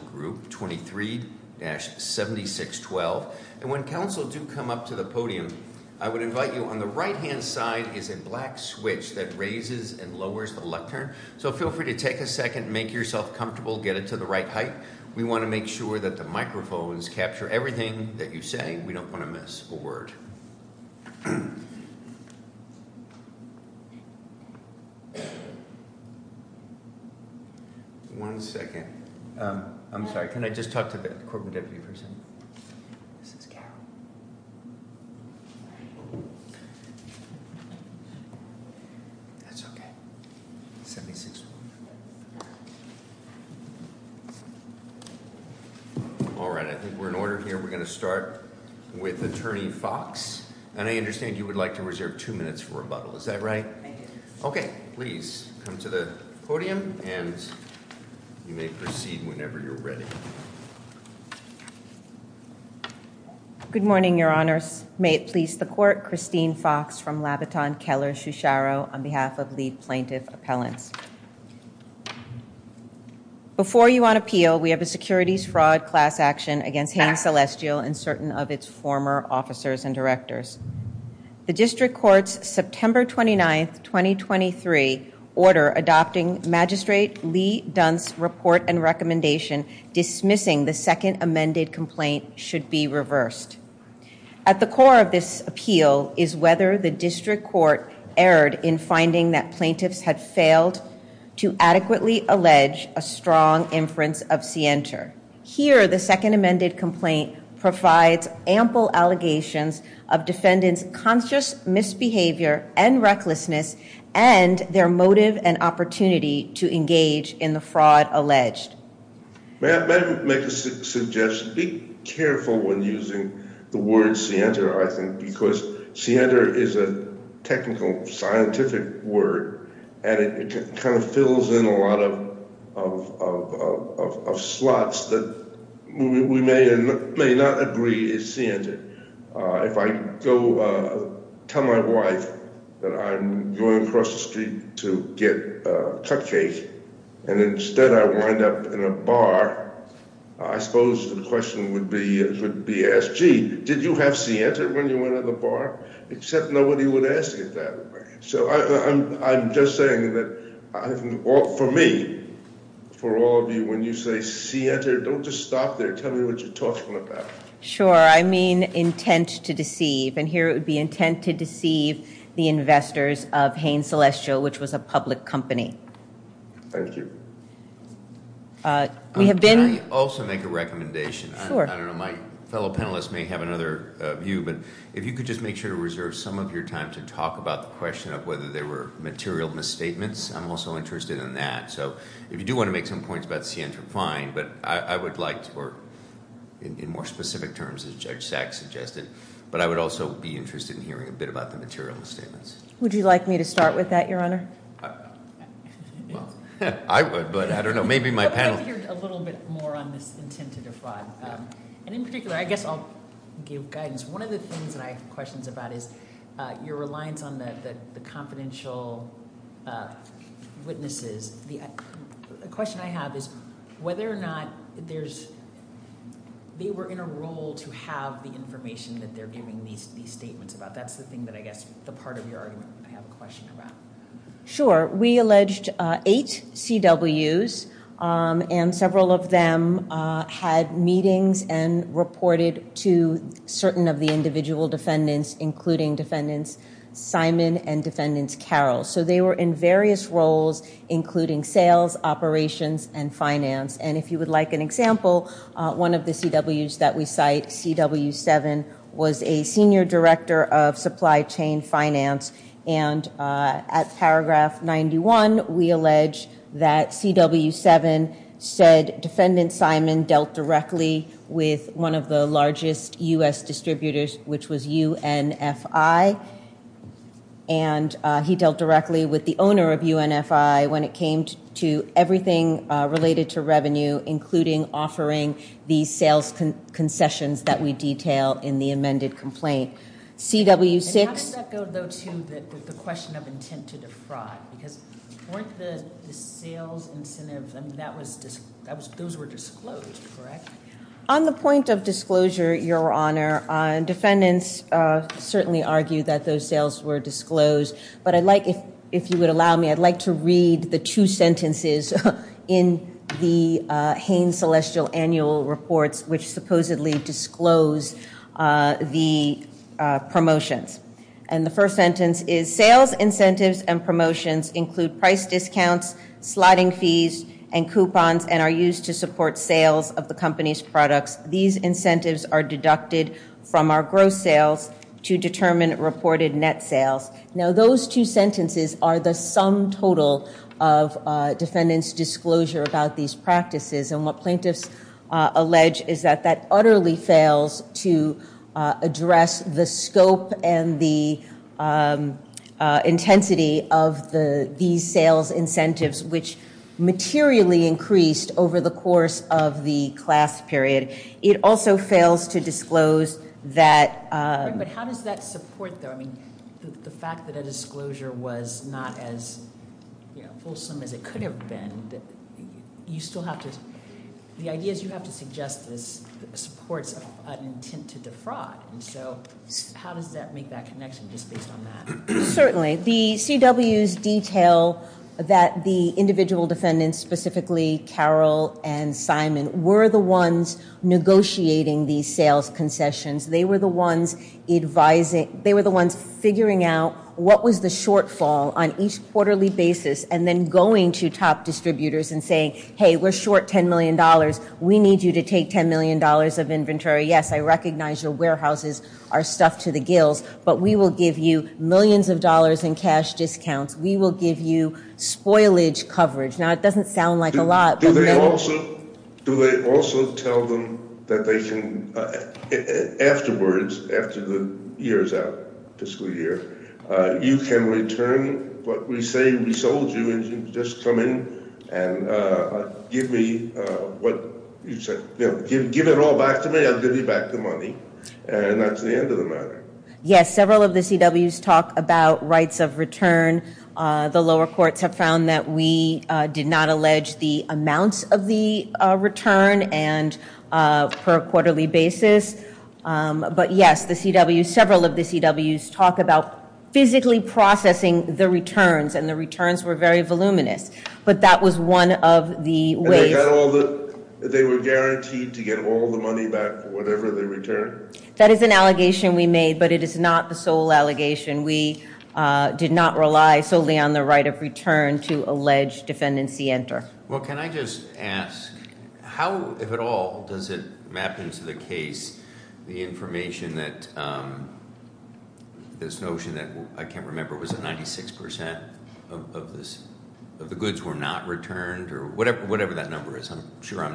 Council Group 23-7612, and when Council do come up to the podium, I would invite you on the right-hand side is a black switch that raises and lowers the lectern, so feel free to take a second, make yourself comfortable, get it to the right height. We want to make sure that the microphones capture everything that you say. We don't want to miss a word. One second. I'm sorry, can I just talk to the Corporate Deputy for a second? This is Christine Fox, and I understand you would like to reserve two minutes for rebuttal, is that right? Okay, please come to the podium, and you may proceed whenever you're ready. Good morning, Your Honors. May it please the Court, Christine Fox from Labaton Keller Shusharo on behalf of lead plaintiff appellants. Before you on appeal, we have a securities fraud class action against Hain Celestial and certain of its former officers and directors. The District Court's September 29th, 2023 order adopting Magistrate Lee Dunn's report and recommendation dismissing the second amended complaint should be reversed. At the core of this appeal is whether the District Court erred in finding that plaintiffs had failed to adequately allege a strong inference of scienter. Here, the second amended complaint provides ample allegations of defendants' conscious misbehavior and recklessness and their motive and opportunity to engage in the fraud alleged. May I make a suggestion? Be careful when using the word scienter, I think, because scienter is a technical scientific word and it kind of fills in a lot of slots that we may or may not agree is scienter. If I go tell my wife that I'm going across the street to get a cupcake and instead I wind up in a bar, I suppose the question would be asked, gee, did you have scienter when you went to the bar? Except nobody would ask it that way. So I'm just saying that for me, for all of you, when you say scienter, don't just stop there. Tell me what you're talking about. Sure, I mean intent to deceive, and here it would be intent to deceive the investors of Hain Celestial, which was a public company. Thank you. Can I also make a recommendation? Sure. I don't know, my fellow panelists may have another view, but if you could just make sure to reserve some of your time to talk about the question of whether there were material misstatements, I'm also interested in that. So if you do want to make some points about scienter, fine, but I would like to work in more specific terms as Judge Sachs suggested, but I would also be interested in hearing a bit about the material misstatements. Would you like me to start with that, Your Honor? I would, but I don't intend to defraud, and in particular, I guess I'll give guidance. One of the things that I have questions about is your reliance on the confidential witnesses. The question I have is whether or not there's, they were in a role to have the information that they're giving these statements about. That's the thing that I guess, the part of your argument I have a question about. Sure. We alleged eight CWs, and several of them had meetings and reported to certain of the individual defendants, including defendants Simon and defendants Carroll. So they were in various roles, including sales, operations, and finance. And if you would like an example, one of the CWs that we cite, CW7, was a senior director of supply chain finance, and at paragraph 91, we allege that CW7 said defendant Simon dealt directly with one of the largest U.S. distributors, which was UNFI, and he dealt directly with the owner of UNFI when it came to everything related to revenue, including offering the sales concessions that we detail in the amended complaint. CW6... And how does that go, though, to the question of intent to defraud? Because weren't the sales incentives, I mean, that was, those were disclosed, correct? On the point of disclosure, Your Honor, defendants certainly argue that those sales were disclosed, but I'd like, if you would allow me, I'd like to read the two sentences in the Haines Celestial Annual Reports, which supposedly disclose the promotions. And the first sentence is, sales incentives and promotions include price discounts, slotting fees, and coupons, and are used to support sales of the company's products. These incentives are deducted from our gross sales to determine reported net sales. Now, those two sentences are the sum total of defendant's disclosure about these practices, and what plaintiffs allege is that that utterly fails to address the scope and the intensity of these sales incentives, which materially increased over the course of the class period. It also fails to disclose that... But how does that support, though, I mean, the fact that a disclosure was not as, you know, fulsome as it could have been, that you still have to, the ideas you have to suggest this supports an intent to defraud, and so how does that make that connection, just based on that? Certainly. The CWs detail that the individual defendants, specifically Carol and Simon, were the ones negotiating these sales concessions. They were the ones advising, they were the ones figuring out what was the shortfall on each quarterly basis, and then going to top distributors and saying, hey, we're short $10 million. We need you to take $10 million of inventory. Yes, I recognize your warehouses are stuffed to the gills, but we will give you millions of dollars in cash discounts. We will give you spoilage coverage. Now, it doesn't sound like a lot, but... Do they also tell them that they can, afterwards, after the year is out, fiscal year, you can return what we say we sold you, and you can just come in and give me what you said, you know, give it all back to me, give me back the money, and that's the end of the matter. Yes, several of the CWs talk about rights of return. The lower courts have found that we did not allege the amounts of the return, and per quarterly basis, but yes, the CWs, several of the CWs talk about physically processing the returns, and the returns were very voluminous, but that was one of the ways... They were guaranteed to get all the money back for whatever they returned. That is an allegation we made, but it is not the sole allegation. We did not rely solely on the right of return to allege defendancy enter. Well, can I just ask, how, if at all, does it map into the case the information that this notion that, I can't sure I'm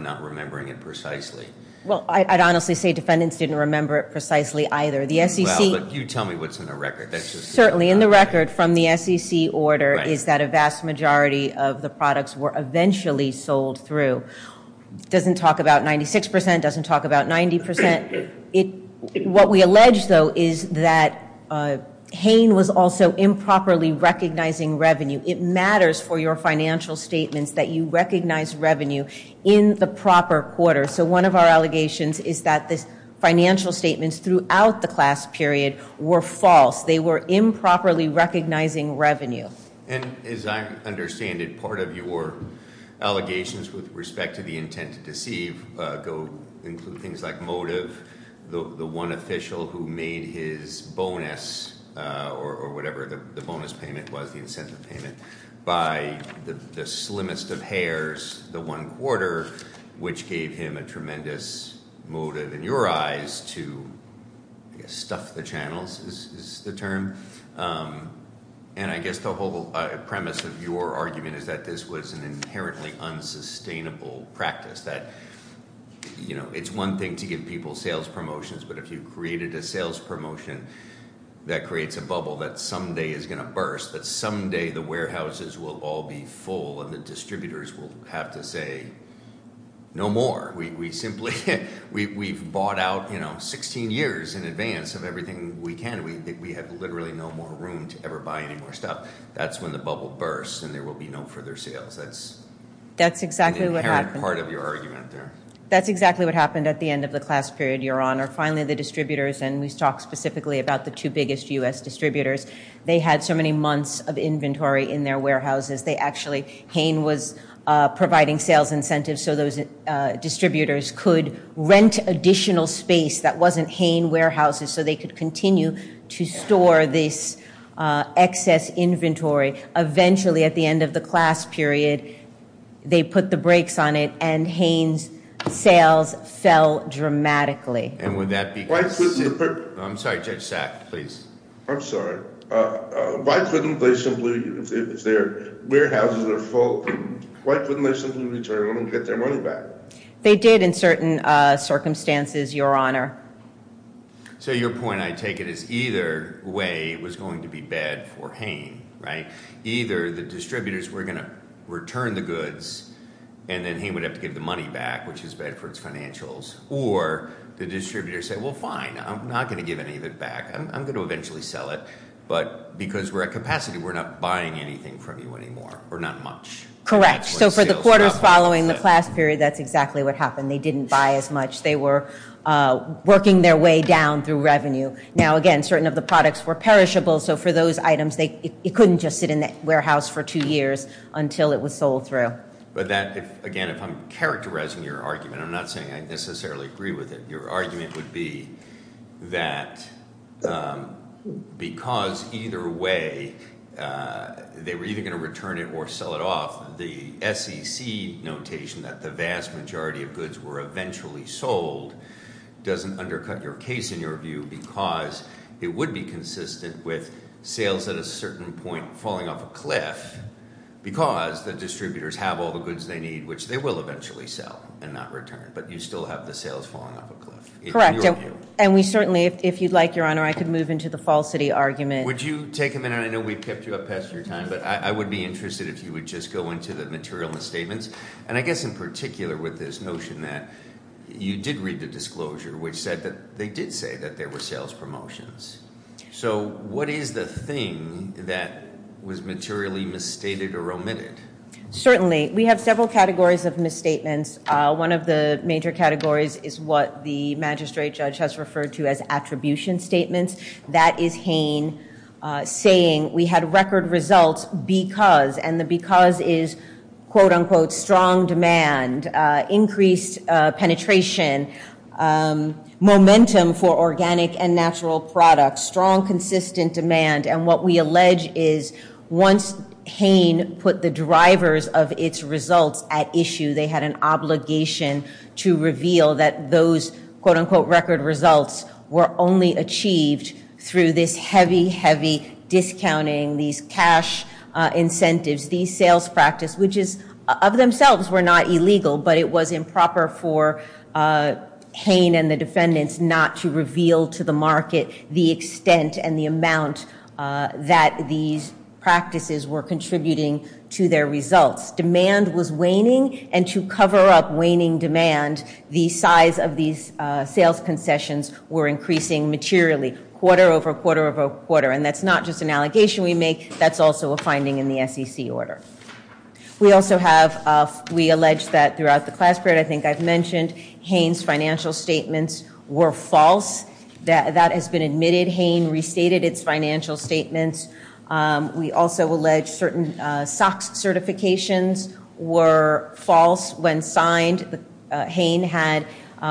not remembering it precisely. Well, I'd honestly say defendants didn't remember it precisely either. The SEC... Well, but you tell me what's in the record. That's just... Certainly, in the record from the SEC order is that a vast majority of the products were eventually sold through. Doesn't talk about 96%, doesn't talk about 90%. What we allege, though, is that Hain was also improperly recognizing revenue. It matters for your financial statements that you recognize revenue in the proper quarter. So one of our allegations is that the financial statements throughout the class period were false. They were improperly recognizing revenue. And as I understand it, part of your allegations with respect to the intent to deceive include things like motive, the one official who made his bonus, or whatever the bonus payment was, the incentive payment, by the slimmest of hairs, the one quarter, which gave him a tremendous motive in your eyes to stuff the channels is the term. And I guess the whole premise of your argument is that this was an inherently unsustainable practice. That it's one thing to give people sales promotions, but if you created a sales promotion that creates a bubble that someday is going to burst, that someday the warehouses will all be full and the distributors will have to say, no more. We've bought out 16 years in advance of everything we can. We have literally no more room to ever buy any more stuff. That's when the bubble bursts and there will be no further sales. That's the inherent part of your argument there. That's exactly what happened at the end of the class period, Your Honor. Finally, the distributors, and we talked specifically about the two biggest U.S. distributors, they had so many months of inventory in their warehouses. They actually, Hain was providing sales incentives so those distributors could rent additional space that wasn't Hain warehouses, so they could continue to store this excess inventory. Eventually, at the end of the class period, they put the brakes on it and Hain's sales fell dramatically. And would that be- Why couldn't the- I'm sorry, Judge Sack, please. I'm sorry. Why couldn't they simply, if their warehouses are full, why couldn't they simply return them and get their money back? They did in certain circumstances, Your Honor. So your point, I take it, is either way was going to be bad for Hain, right? Either the distributors were going to return the goods and then Hain would have to give the money back, which is bad for its financials, or the distributors say, well, fine, I'm not going to give any of it back. I'm going to eventually sell it, but because we're at capacity, we're not buying anything from you anymore, or not much. Correct. So for the quarters following the class period, that's exactly what happened. They didn't buy as much. They were working their way down through revenue. Now, again, certain of the products were perishable, so for those items, it couldn't just sit in that warehouse for two years until it was sold through. But that, again, if I'm characterizing your argument, I'm not saying I necessarily agree with it. Your argument would be that because either way they were either going to return it or sell it off, the SEC notation that the vast majority of goods were eventually sold doesn't undercut your case in your view because it would be consistent with sales at a certain point falling off a cliff because the distributors have all the goods they need, which they will eventually sell and not return, but you still have the sales falling off a cliff. Correct. And we certainly, if you'd like, Your Honor, I could move into the falsity argument. Would you take a minute? I know we've kept you up past your time, but I would be interested if you would just go into the material and the statements. And I guess in particular with this notion that you did read the disclosure, which said that they did say that there were promotions. So what is the thing that was materially misstated or omitted? Certainly. We have several categories of misstatements. One of the major categories is what the magistrate judge has referred to as attribution statements. That is Hain saying we had record results because, and the because is quote unquote strong demand, increased penetration, momentum for organic and natural products, strong, consistent demand. And what we allege is once Hain put the drivers of its results at issue, they had an obligation to reveal that those quote unquote record results were only achieved through this heavy, heavy discounting, these cash incentives, these sales practice, which is of themselves were not illegal, but it was improper for Hain and the defendants not to reveal to the market the extent and the amount that these practices were contributing to their results. Demand was waning, and to cover up waning demand, the size of these sales concessions were increasing materially, quarter over quarter over quarter. And that's not just an we make, that's also a finding in the SEC order. We also have, we allege that throughout the class period, I think I've mentioned, Hain's financial statements were false. That has been admitted. Hain restated its financial statements. We also allege certain SOX certifications were false when signed. Hain had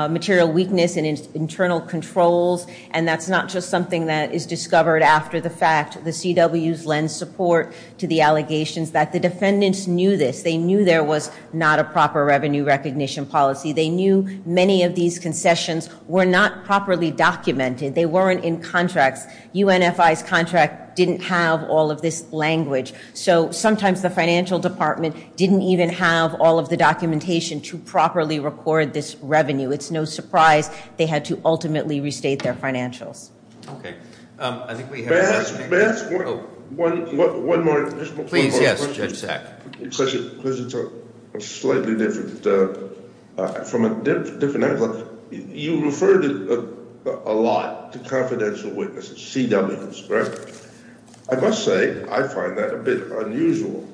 material weakness and internal controls, and that's not just something that is discovered after the fact. The CWs lend support to the allegations that the defendants knew this. They knew there was not a proper revenue recognition policy. They knew many of these concessions were not properly documented. They weren't in contracts. UNFI's contract didn't have all of this language, so sometimes the financial department didn't even have all of the documentation to properly record this revenue. It's no surprise they had to ultimately restate their financials. Okay, I think we have... May I ask one more question? Please, yes, Judge Sack. Because it's a slightly different, from a different angle, you referred a lot to confidential witnesses, CWs, correct? I must say, I find that a bit unusual,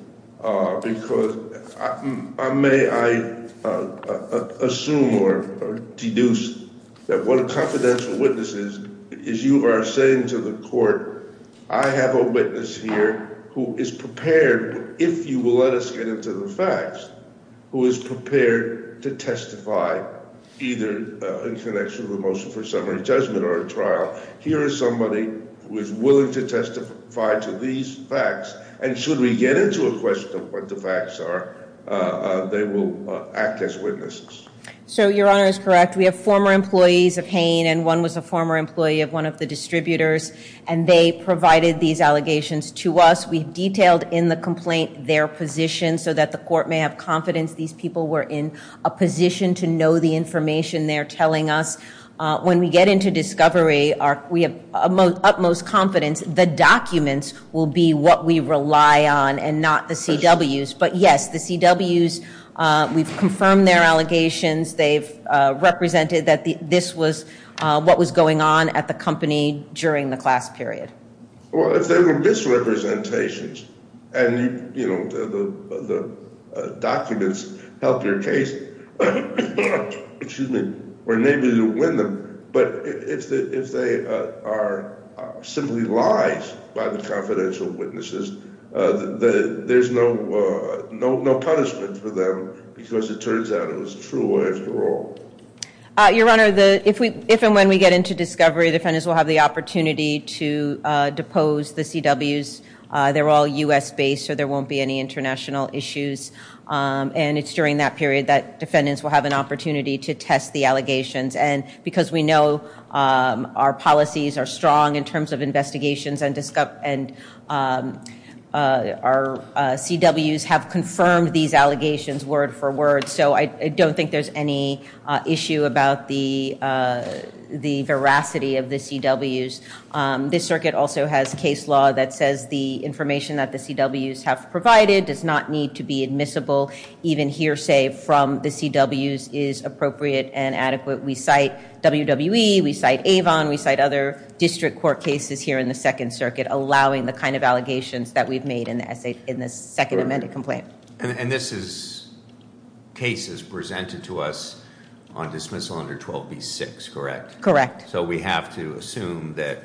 because I may, I assume or deduce that what a confidential witness is, is you are saying to the court, I have a witness here who is prepared, if you will let us get into the facts, who is prepared to testify, either in connection with a motion for summary judgment or a trial. Here is somebody who is willing to testify to these facts, and should we get into a question of what the facts are, they will act as witnesses. So your honor is correct. We have former employees of Hain, and one was a former employee of one of the distributors, and they provided these allegations to us. We detailed in the complaint their position, so that the court may have confidence these people were in a position to know the information they're telling us. When we get into discovery, we have utmost confidence the documents will be what we rely on, and not the CWs. But yes, the CWs, we've confirmed their allegations, they've represented that this was what was going on at the company during the class period. Well, if they were misrepresentations, and you know the documents help your case, excuse me, we're able to win them, but if they are simply lies by the confidential witnesses, there's no punishment for them, because it turns out it was true after all. Your honor, if and when we get into discovery, defendants will have the opportunity to depose the CWs. They're all U.S. based, so there won't be any international issues, and it's during that period that defendants will have an opportunity to test the allegations, and we know our policies are strong in terms of investigations, and our CWs have confirmed these allegations word for word, so I don't think there's any issue about the veracity of the CWs. This circuit also has case law that says the information that the CWs have provided does not to be admissible, even hearsay from the CWs is appropriate and adequate. We cite WWE, we cite Avon, we cite other district court cases here in the second circuit, allowing the kind of allegations that we've made in the second amended complaint. And this is cases presented to us on dismissal under 12B6, correct? Correct. So we have to assume that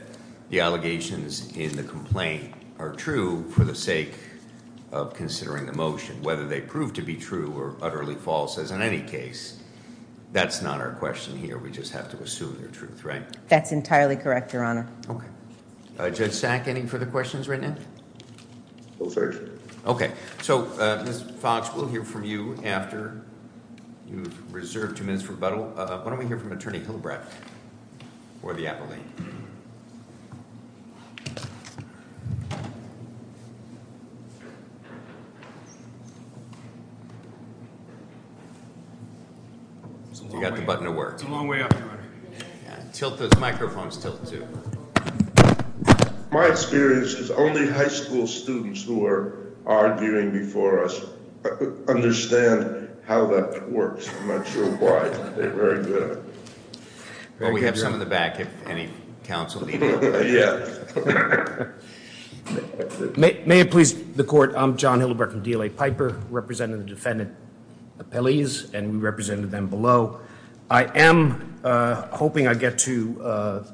the allegations in the complaint are true for the sake of considering the motion. Whether they prove to be true or utterly false as in any case, that's not our question here. We just have to assume the truth, right? That's entirely correct, Your Honor. Okay. Judge Sack, any further questions right now? No, sir. Okay. So Ms. Fox, we'll hear from you after you've reserved two minutes for rebuttal. Why don't we hear from you? You got the button to work. It's a long way up, Your Honor. Yeah, tilt those microphones, tilt too. My experience is only high school students who are arguing before us understand how that works. I'm not sure why. They're very good. Well, we have some in the back if any counsel need help. Yeah. May it please the court. I'm John Hillenburg from DLA Piper representing the defendant appellees and we represented them below. I am hoping I get to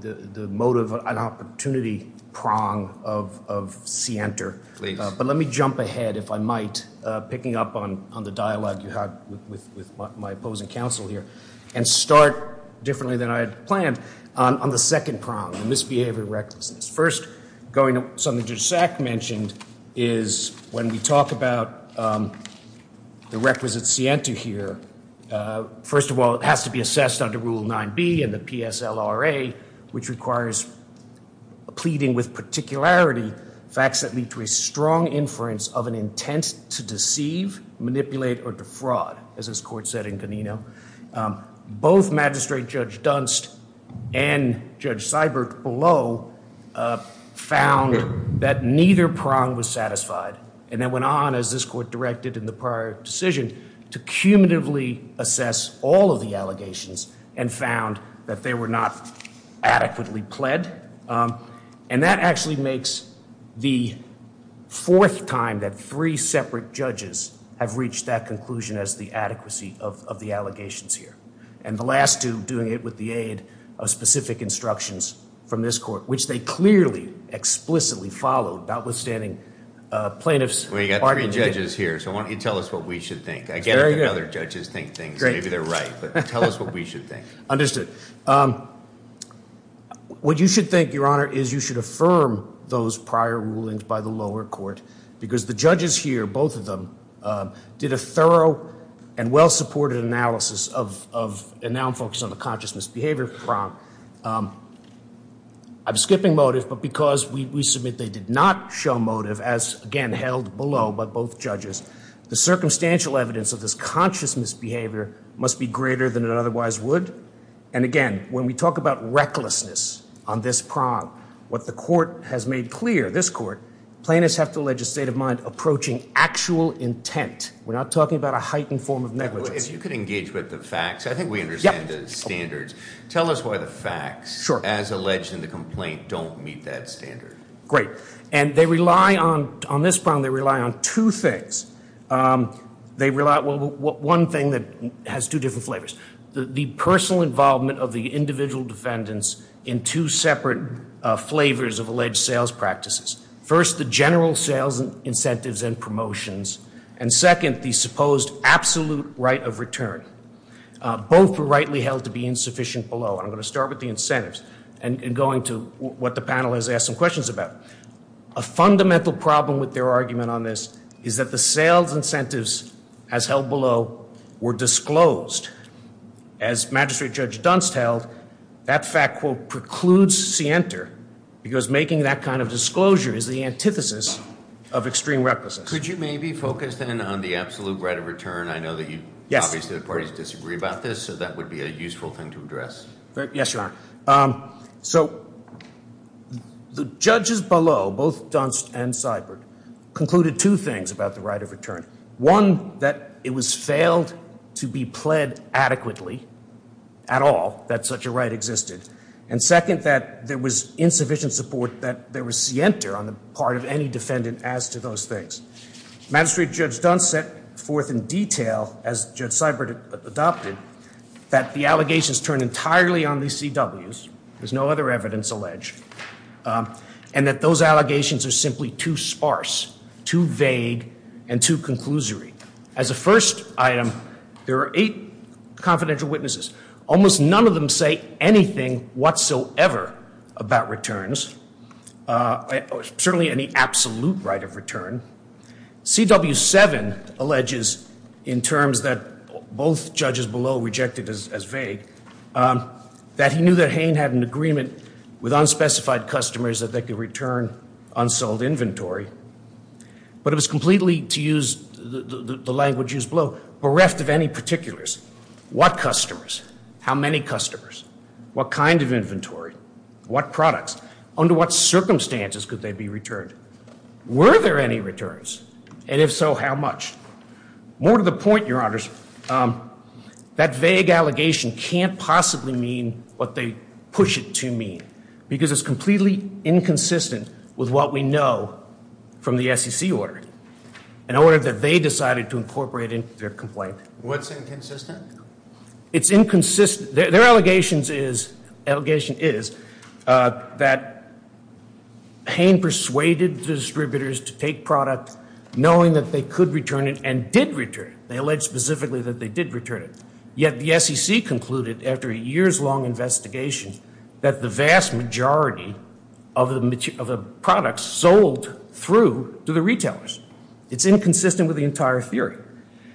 the motive and opportunity prong of Sienter. Please. But let me jump ahead if I might, picking up on the dialogue you had with my opposing counsel here, and start differently than I had planned on the second prong, the misbehavior recklessness. First, going to something Judge Sack mentioned is when we talk about the requisite Sienter here. First of all, it has to be assessed under Rule 9b in the PSLRA, which requires pleading with particularity facts that lead to a strong inference of an intent to deceive, manipulate, or defraud, as this court said in Ganino. Both Magistrate Judge Dunst and Judge Seibert below found that neither prong was satisfied, and then went on, as this court directed in the prior decision, to cumulatively assess all of the allegations and found that they were not adequately pled. And that actually makes the fourth time that three separate judges have reached that conclusion as the adequacy of the allegations here. And the last two doing it with the aid of specific instructions from this court, which they clearly explicitly followed, notwithstanding plaintiffs. Well, you got three judges here, so why don't you tell us what we should think. I get it when other judges think things, maybe they're right, but tell us what we should think. Understood. What you should think, Your Honor, is you should affirm those prior rulings by the lower court, because the judges here, both of them, did a thorough and well-supported analysis of, and now I'm focused on the conscious misbehavior prong. I'm skipping motive, but because we submit they did not show motive, as again held below by both judges, the circumstantial evidence of this conscious misbehavior must be greater than it otherwise would. And again, when we talk about recklessness on this prong, what the court has made clear, this court, plaintiffs have to allege a state of mind approaching actual intent. We're not talking about a heightened form of negligence. If you could engage with the facts, I think we understand the standards. Tell us why the facts as alleged in the complaint don't meet that standard. Great. And they rely on, on this prong, they rely on two things. They rely, well, one thing that has two different flavors. The personal involvement of the individual defendants in two separate flavors of alleged sales practices. First, the general sales incentives and promotions. And second, the supposed absolute right of return. Both were rightly held to be insufficient below. And I'm going to start with the incentives and going to what the panel has asked some questions about. A fundamental problem with their argument on this is that the sales incentives as held below were disclosed. As Magistrate Judge Dunst held, that fact, quote, precludes scienter because making that kind of disclosure is the antithesis of extreme recklessness. Could you maybe focus then on the absolute right of return? I know that you, obviously the parties disagree about this, so that would be a useful thing to address. Yes, Your Honor. So the judges below, both Dunst and Seibert, concluded two things about the right of return. One, that it was failed to be pled adequately at all that such a right existed. And second, that there was insufficient support that there was scienter on the part of any defendant as to those things. Magistrate Judge Dunst set forth in detail, as Judge Seibert adopted, that the allegations turn entirely on the CWs. There's no other evidence alleged. And that those allegations are simply too sparse, too vague, and too conclusory. As a first item, there are eight confidential witnesses. Almost none of them say anything whatsoever about returns, certainly any absolute right of return. CW 7 alleges in terms that both judges below rejected as vague, that he knew that Hain had an agreement with unspecified customers that they could return unsold inventory, but it was completely, to use the language used below, bereft of any particulars. What customers? How many customers? What kind of inventory? What products? Under what circumstances could they be returned? Were there any returns? And if so, how much? More to the point, Your Honors, that vague allegation can't possibly mean what they push it to mean, because it's completely inconsistent with what we know from the SEC order. An order that they decided to incorporate into their complaint. What's inconsistent? It's inconsistent. Their allegations is, allegation is, that Hain persuaded distributors to take products knowing that they could return it and did return it. They allege specifically that they did return it. Yet the SEC concluded, after a year's long investigation, that the vast majority of the products sold through to the retailers. It's inconsistent with the entire theory.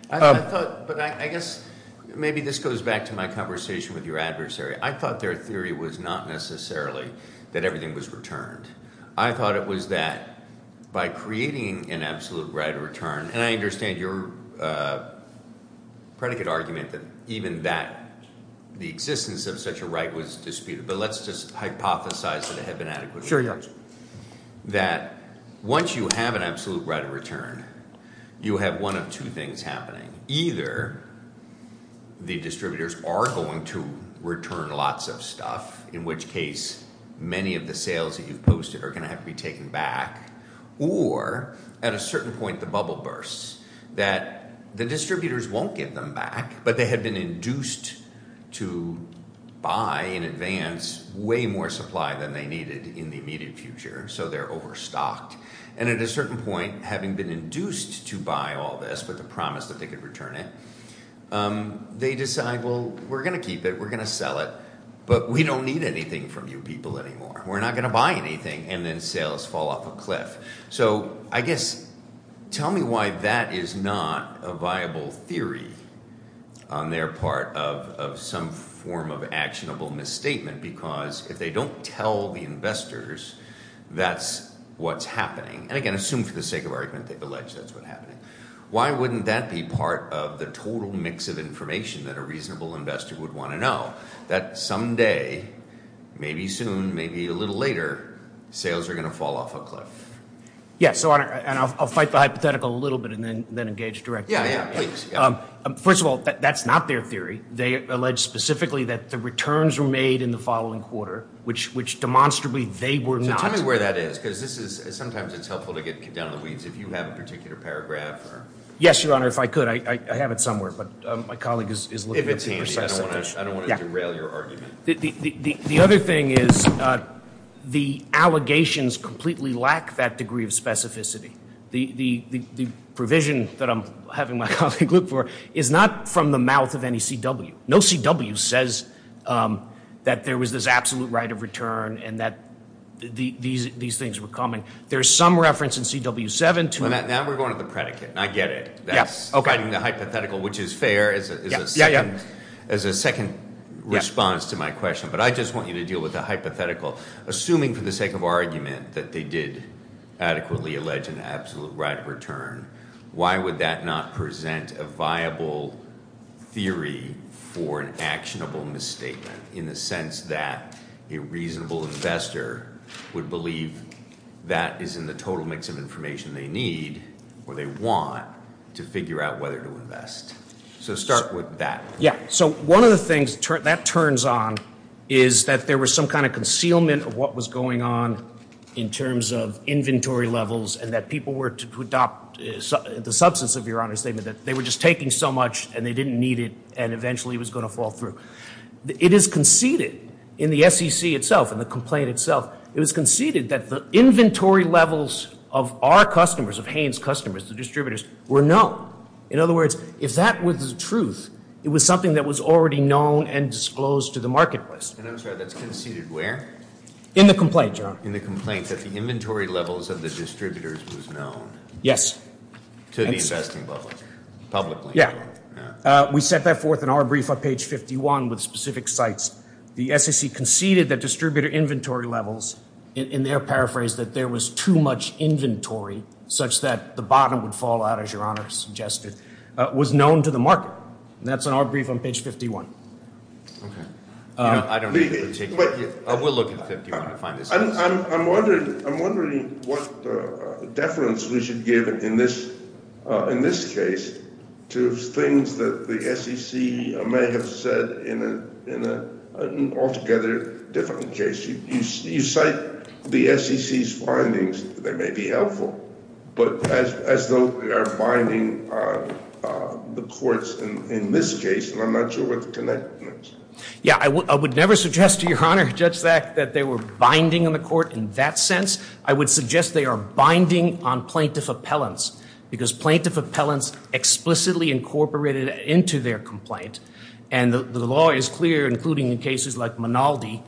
I thought, but I guess maybe this goes back to my conversation with your adversary. I thought their theory was not necessarily that everything was returned. I thought it was that by creating an absolute right of return, and I understand your predicate argument that even that the existence of such a right was disputed, but let's just hypothesize that it had been adequately disputed. Sure, yeah. That once you have an absolute right of return, you have one of two things happening. Either the distributors are going to return lots of stuff, in which case, many of the sales that you've posted are going to have to be taken back, or at a certain point, the bubble bursts that the distributors won't get them back, but they had been induced to buy in advance way more supply than they needed in the immediate future, so they're overstocked. At a certain point, having been induced to buy all this with the promise that they could return it, they decide, well, we're going to keep it. We're going to sell it, but we don't need anything from you people anymore. We're not going to buy anything, and then sales fall off a cliff, so I guess tell me why that is not a viable theory on their part of some form of actionable misstatement, because if they don't tell the investors that's what's happening, and again, assume for the sake of argument, they've alleged that's what's happening. Why wouldn't that be part of the total mix of information that a reasonable investor would want to know that someday, maybe soon, maybe a little later, sales are going to fall off a cliff? Yes, and I'll fight the hypothetical a little bit, and then engage directly. First of all, that's not their theory. They allege specifically that the returns were made in the following quarter, which demonstrably they were not. Tell me where that is, because sometimes it's helpful to get down the weeds if you have a particular paragraph. Yes, Your Honor, if I could, I have it somewhere, but my colleague is looking at the process. I don't want to derail your argument. The other thing is the allegations completely lack that degree of specificity. The provision that I'm having my colleague look for is not from the mouth of any CW. No CW says that there was this absolute right of return and that these things were coming. There's some reference in CW7 to- Now we're going to the predicate, and I get it. Yes, okay. Fighting the hypothetical, which is fair as a second response to my question, but I just want you to deal with the hypothetical. Assuming for the sake of argument that they did adequately allege an absolute right of return, why would that not present a viable theory for an actionable misstatement in the sense that a reasonable investor would believe that is in the total mix of information they need or they want to figure out whether to invest? So start with that. Yes. So one of the things that turns on is that there was some kind of concealment of what was going on in terms of inventory levels and that people were to adopt the substance of Your Honor's statement that they were just taking so much and they didn't need it and eventually it was going to fall through. It is conceded in the SEC itself and the complaint itself, it was conceded that the inventory levels of our customers, of Haines' customers, the distributors, were known. In other words, if that was the truth, it was something that was already known and disclosed to the marketplace. And I'm sorry, that's conceded where? In the complaint, Your Honor. In the complaint that the inventory levels of the distributors was known. Yes. To the investing public, publicly. Yeah. We set that forth in our brief on page 51 with specific sites. The SEC conceded that distributor inventory levels, in their paraphrase, that there was too much inventory such that the bottom would fall out, as Your Honor suggested, was known to the market. And that's in our brief on page 51. Okay. You know, I don't think we're taking that. We'll look at 51 to find this out. I'm wondering what deference we should give in this case to things that the SEC may have said in an altogether different case. You cite the SEC's findings. They may be helpful. But as though they are binding on the courts in this case, and I'm not sure what the connection is. Yeah, I would never suggest to Your Honor, Judge Zak, that they were binding on the court in that sense. I would suggest they are binding on plaintiff appellants. Because plaintiff appellants explicitly incorporated into their complaint. And the law is clear, including in cases like Manaldi,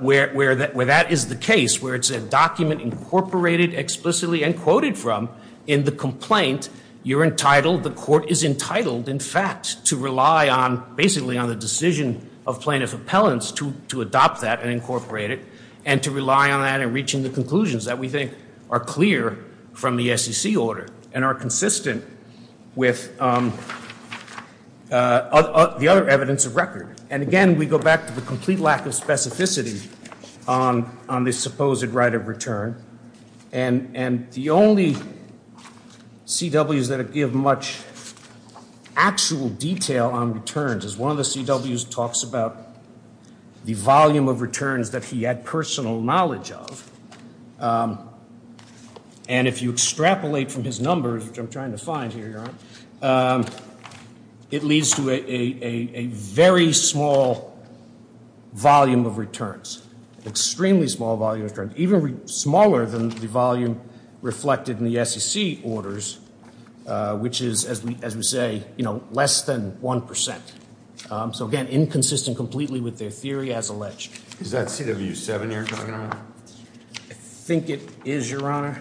where that is the case, where it's a document incorporated explicitly and quoted from in the complaint. You're entitled, the court is entitled, in fact, to rely on, basically, on the decision of plaintiff appellants to adopt that and incorporate it. And to rely on that in reaching the conclusions that we think are clear from the SEC order and are consistent with the other evidence of record. And again, we go back to the complete lack of specificity on this supposed right of return. And the only CWs that give much actual detail on returns is one of the CWs talks about the volume of returns that he had personal knowledge of. And if you extrapolate from his numbers, which I'm trying to find here, Your Honor, it leads to a very small volume of returns. Extremely small volume of returns. Even smaller than the volume reflected in the SEC orders, which is, as we say, less than 1%. So again, inconsistent completely with their theory as alleged. Is that CW7 you're talking about? I think it is, Your Honor.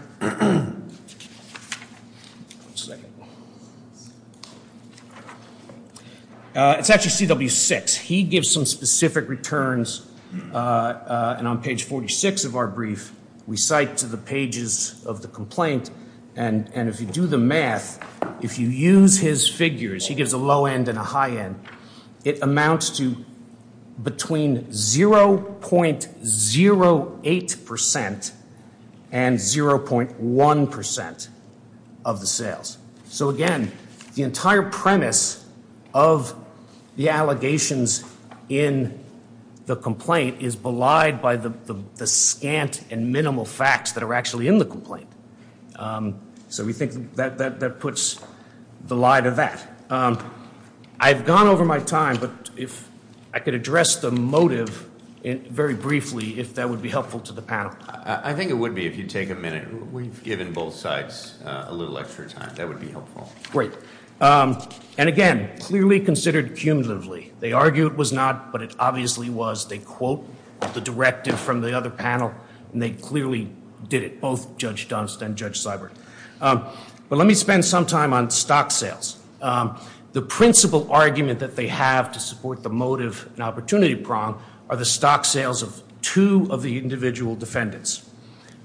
It's actually CW6. He gives some specific returns. And on page 46 of our brief, we cite to the pages of the complaint. And if you do the math, if you use his figures, he gives a low end and a high end. It amounts to between 0.08% and 0.1% of the sales. So again, the entire premise of the allegations in the complaint is belied by the scant and minimal facts that are actually in the complaint. So we think that puts the lie to that. I've gone over my time, but if I could address the motive very briefly, if that would be helpful to the panel. I think it would be if you'd take a minute. We've given both sides a little extra time. That would be helpful. Great. And again, clearly considered cumulatively. They argue it was not, but it obviously was. They quote the directive from the other panel, and they clearly did it, both Judge Dunst and Judge Seibert. But let me spend some time on stock sales. The principal argument that they have to support the motive and opportunity prong are the stock sales of two of the individual defendants.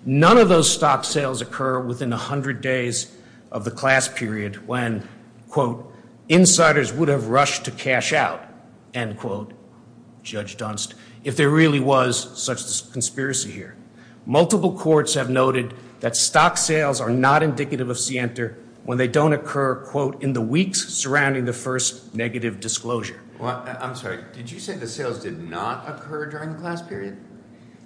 None of those stock sales occur within 100 days of the class period when, quote, insiders would have rushed to cash out, end quote, Judge Dunst, if there really was such a conspiracy here. Multiple courts have noted that stock sales are not indicative of scienter when they don't occur, quote, in the weeks surrounding the first negative disclosure. Well, I'm sorry. Did you say the sales did not occur during the class period?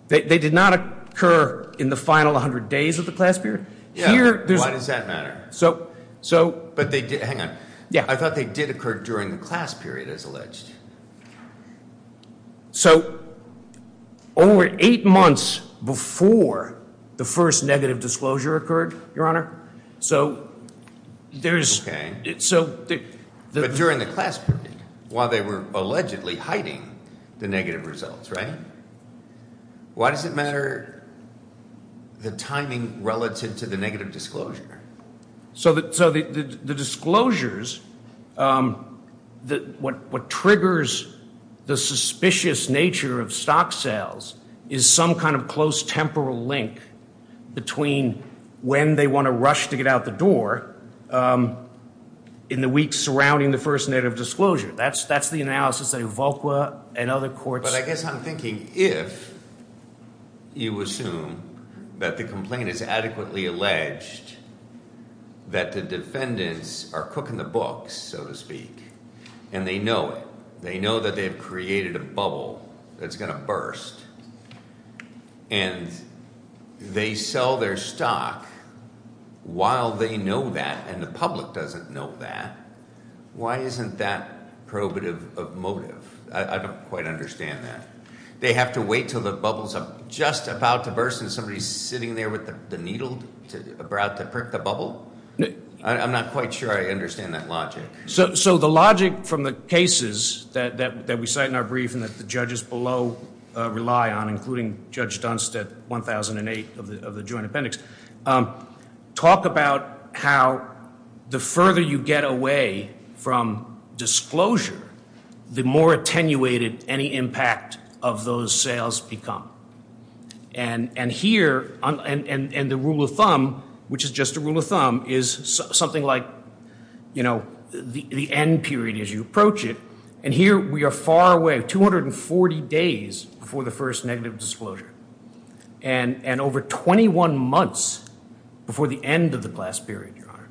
They did not occur in the final 100 days of the class period. Yeah, why does that matter? But they did. Hang on. Yeah. I thought they did occur during the class period, as alleged. So over eight months before the first negative disclosure occurred, Your Honor, so there's OK. But during the class period, while they were allegedly hiding the negative results, right? Why does it matter the timing relative to the negative disclosure? So the disclosures, what triggers the suspicious nature of stock sales is some kind of close temporal link between when they want to rush to get out the door in the weeks surrounding the first negative disclosure. That's the analysis that Ivulqua and other courts. I guess I'm thinking, if you assume that the complaint is adequately alleged, that the defendants are cooking the books, so to speak, and they know it, they know that they have created a bubble that's going to burst, and they sell their stock while they know that and the public doesn't know that. Why isn't that probative of motive? I don't quite understand that. They have to wait till the bubble's just about to burst and somebody's sitting there with the needle about to prick the bubble? I'm not quite sure I understand that logic. So the logic from the cases that we cite in our brief and that the judges below rely on, including Judge Dunst at 1008 of the joint appendix, talk about how the further you get away from disclosure, the more attenuated any impact of those sales become. And here, and the rule of thumb, which is just a rule of thumb, is something like the end period as you approach it. And here we are far away, 240 days before the first negative disclosure, and over 21 months before the end of the class period, Your Honor.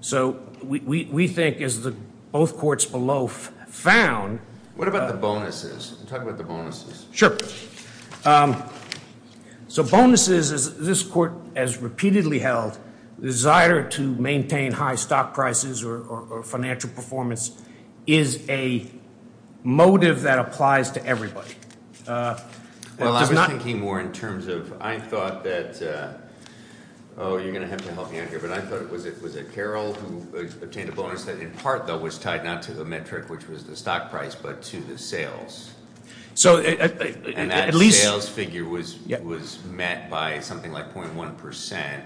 So we think, as both courts below found... What about the bonuses? Talk about the bonuses. Sure. So bonuses, as this court has repeatedly held, the desire to maintain high stock prices or financial performance is a motive that applies to everybody. Well, I was thinking more in terms of, I thought that, oh, you're going to have to help me here, but I thought it was at Carroll who obtained a bonus that in part, though, was tied not to the metric, which was the stock price, but to the sales. So at least... And that sales figure was met by something like 0.1%,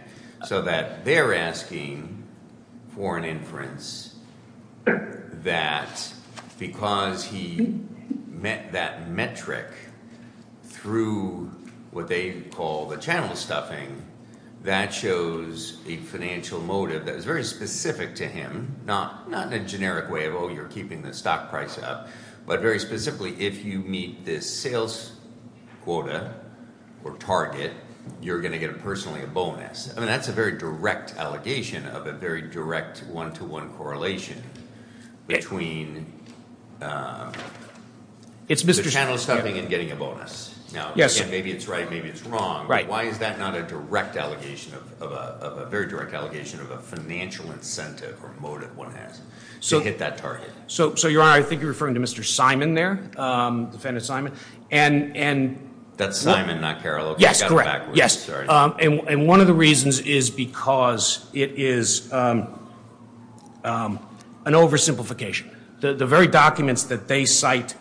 so that they're asking for an inference that because he met that metric through what they call the channel stuffing, that shows a financial motive that is very specific to him, not in a generic way of, oh, you're keeping the stock price up, but very specifically, if you meet this sales quota or target, you're going to get personally a bonus. I mean, that's a very direct allegation of a very direct one-to-one correlation between... It's Mr. Channel stuffing and getting a bonus. Now, again, maybe it's right, maybe it's wrong, but why is that not a direct allegation of a financial incentive or motive one has to hit that target? So, Your Honor, I think you're referring to Mr. Simon there, defendant Simon. And... That's Simon, not Carroll. Yes, correct. Yes. And one of the reasons is because it is an oversimplification. The very documents that they cite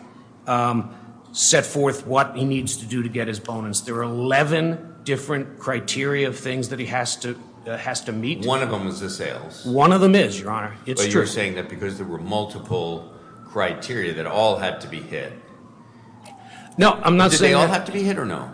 set forth what he needs to do to get his bonus. There are 11 different criteria of things that he has to meet. One of them is the sales. One of them is, Your Honor, it's true. But you're saying that because there were multiple criteria that all had to be hit. No, I'm not saying... Did they all have to be hit or no?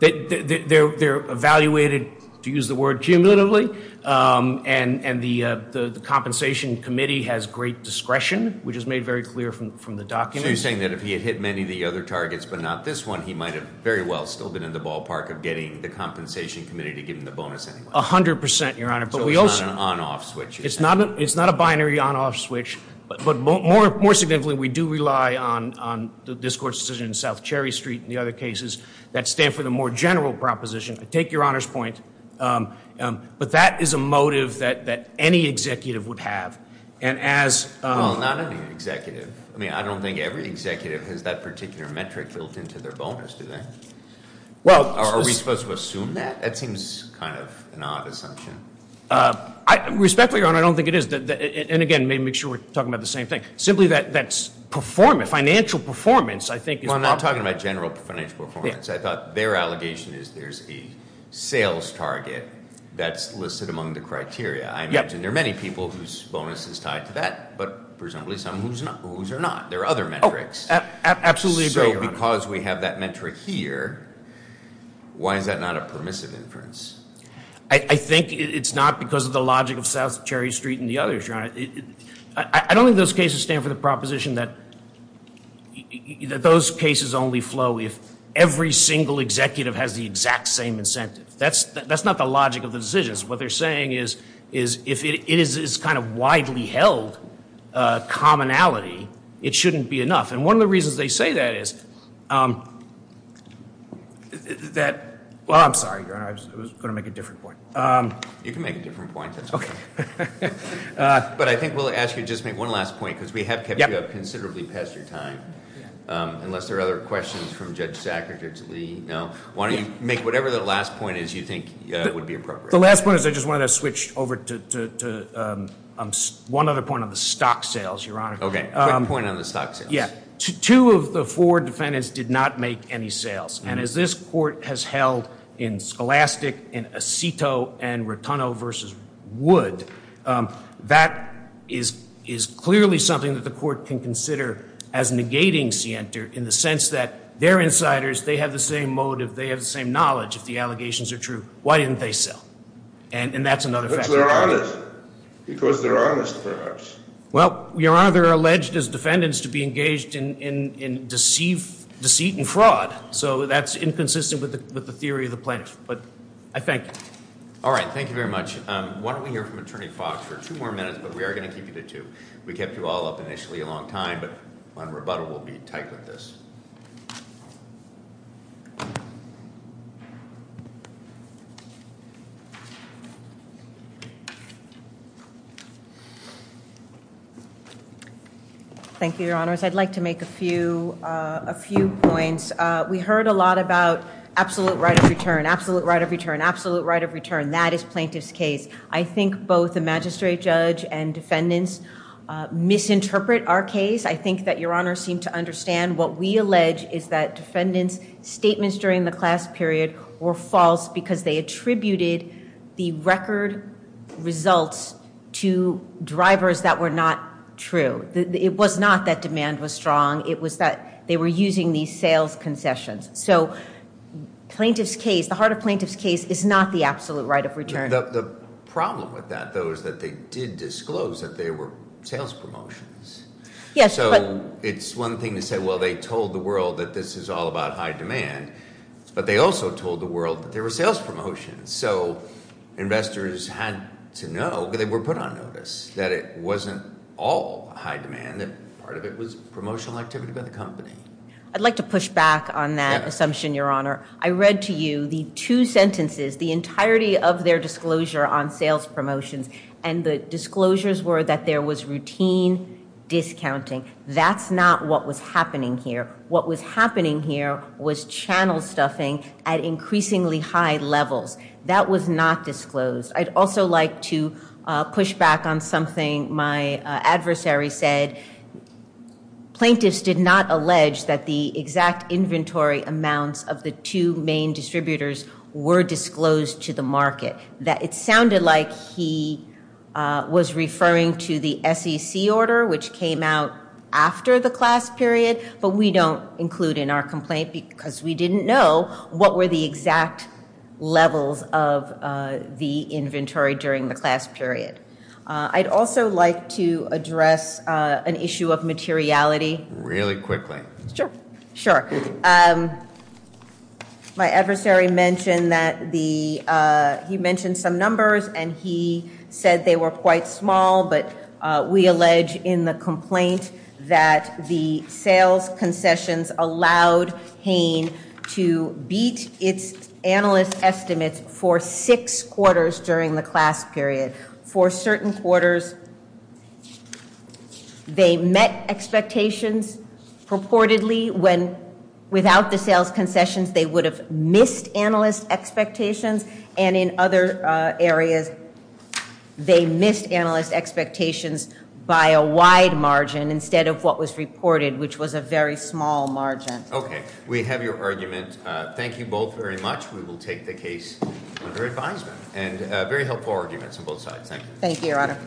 They're evaluated, to use the word cumulatively, and the compensation committee has great discretion, which is made very clear from the documents. So you're saying that if he had hit many of the other targets, but not this one, he might have very well still been in the ballpark of getting the compensation committee to give him the bonus anyway? A hundred percent, Your Honor. So it's not an on-off switch? It's not a binary on-off switch. But more significantly, we do rely on the discourse decision in South Cherry Street and the other cases that stand for the more general proposition. I take Your Honor's point. But that is a motive that any executive would have. And as... Well, not any executive. I mean, I don't think every executive has that particular metric built into their bonus, do they? Are we supposed to assume that? That seems kind of an odd assumption. Respectfully, Your Honor, I don't think it is. And again, make sure we're talking about the same thing. Simply that that's performance, financial performance, I think is... Well, I'm not talking about general financial performance. I thought their allegation is there's a sales target that's listed among the criteria. I imagine there are many people whose bonus is tied to that, but presumably some whose are not. There are other metrics. Absolutely agree, Your Honor. Because we have that metric here, why is that not a permissive inference? I think it's not because of the logic of South Cherry Street and the others, Your Honor. I don't think those cases stand for the proposition that those cases only flow if every single executive has the exact same incentive. That's not the logic of the decisions. What they're saying is if it is kind of widely held commonality, it shouldn't be enough. And one of the reasons they say that is... That... Well, I'm sorry, Your Honor, I was going to make a different point. You can make a different point. But I think we'll ask you to just make one last point because we have kept you up considerably past your time. Unless there are other questions from Judge Sackert, Judge Lee, no? Why don't you make whatever the last point is you think would be appropriate. The last point is I just want to switch over to one other point on the stock sales, Your Honor. Okay, quick point on the stock sales. Two of the four defendants did not make any sales. And as this Court has held in Scholastic, in Aceto, and Rotunno v. Wood, that is clearly something that the Court can consider as negating scienter in the sense that they're insiders, they have the same motive, they have the same knowledge if the allegations are true. Why didn't they sell? And that's another factor. Because they're honest. Because they're honest, perhaps. Well, Your Honor, they're alleged as defendants to be engaged in deceit and fraud. So that's inconsistent with the theory of the plaintiff. But I thank you. All right, thank you very much. Why don't we hear from Attorney Fox for two more minutes. But we are going to keep you to two. We kept you all up initially a long time. But on rebuttal, we'll be tight with this. Thank you, Your Honors. I'd like to make a few points. We heard a lot about absolute right of return, absolute right of return, absolute right of return. That is plaintiff's case. I think both the magistrate judge and defendants misinterpret our case. I think that Your Honors seem to understand what we allege is that defendants' statements during the class period were false because they attributed the record results to drivers that were not true. It was not that demand was strong. It was that they were using these sales concessions. So the heart of plaintiff's case is not the absolute right of return. The problem with that, though, is that they did disclose that they were sales promotions. So it's one thing to say, well, they told the world that this is all about high demand. But they also told the world that they were sales promotions. So investors had to know, because they were put on notice, that it wasn't all high demand, that part of it was promotional activity by the company. I'd like to push back on that assumption, Your Honor. I read to you the two sentences, the entirety of their disclosure on sales promotions. And the disclosures were that there was routine discounting. That's not what was happening here. What was happening here was channel stuffing at increasingly high levels. That was not disclosed. I'd also like to push back on something my adversary said. Plaintiffs did not allege that the exact inventory amounts of the two main distributors were disclosed to the market, that it sounded like he was referring to the SEC order, which came out after the class period, but we don't include in our complaint because we didn't know what were the exact levels of the inventory during the class period. I'd also like to address an issue of materiality. Really quickly. Sure. Sure. My adversary mentioned that the, he mentioned some numbers, and he said they were quite small. But we allege in the complaint that the sales concessions allowed Hain to beat its analyst estimates for six quarters during the class period. For certain quarters, they met expectations purportedly when without the sales concessions, they would have missed analyst expectations. And in other areas, they missed analyst expectations by a wide margin instead of what was reported, which was a very small margin. Okay. We have your argument. Thank you both very much. We will take the case under advisement. And very helpful arguments on both sides. Thank you. Thank you, Your Honor.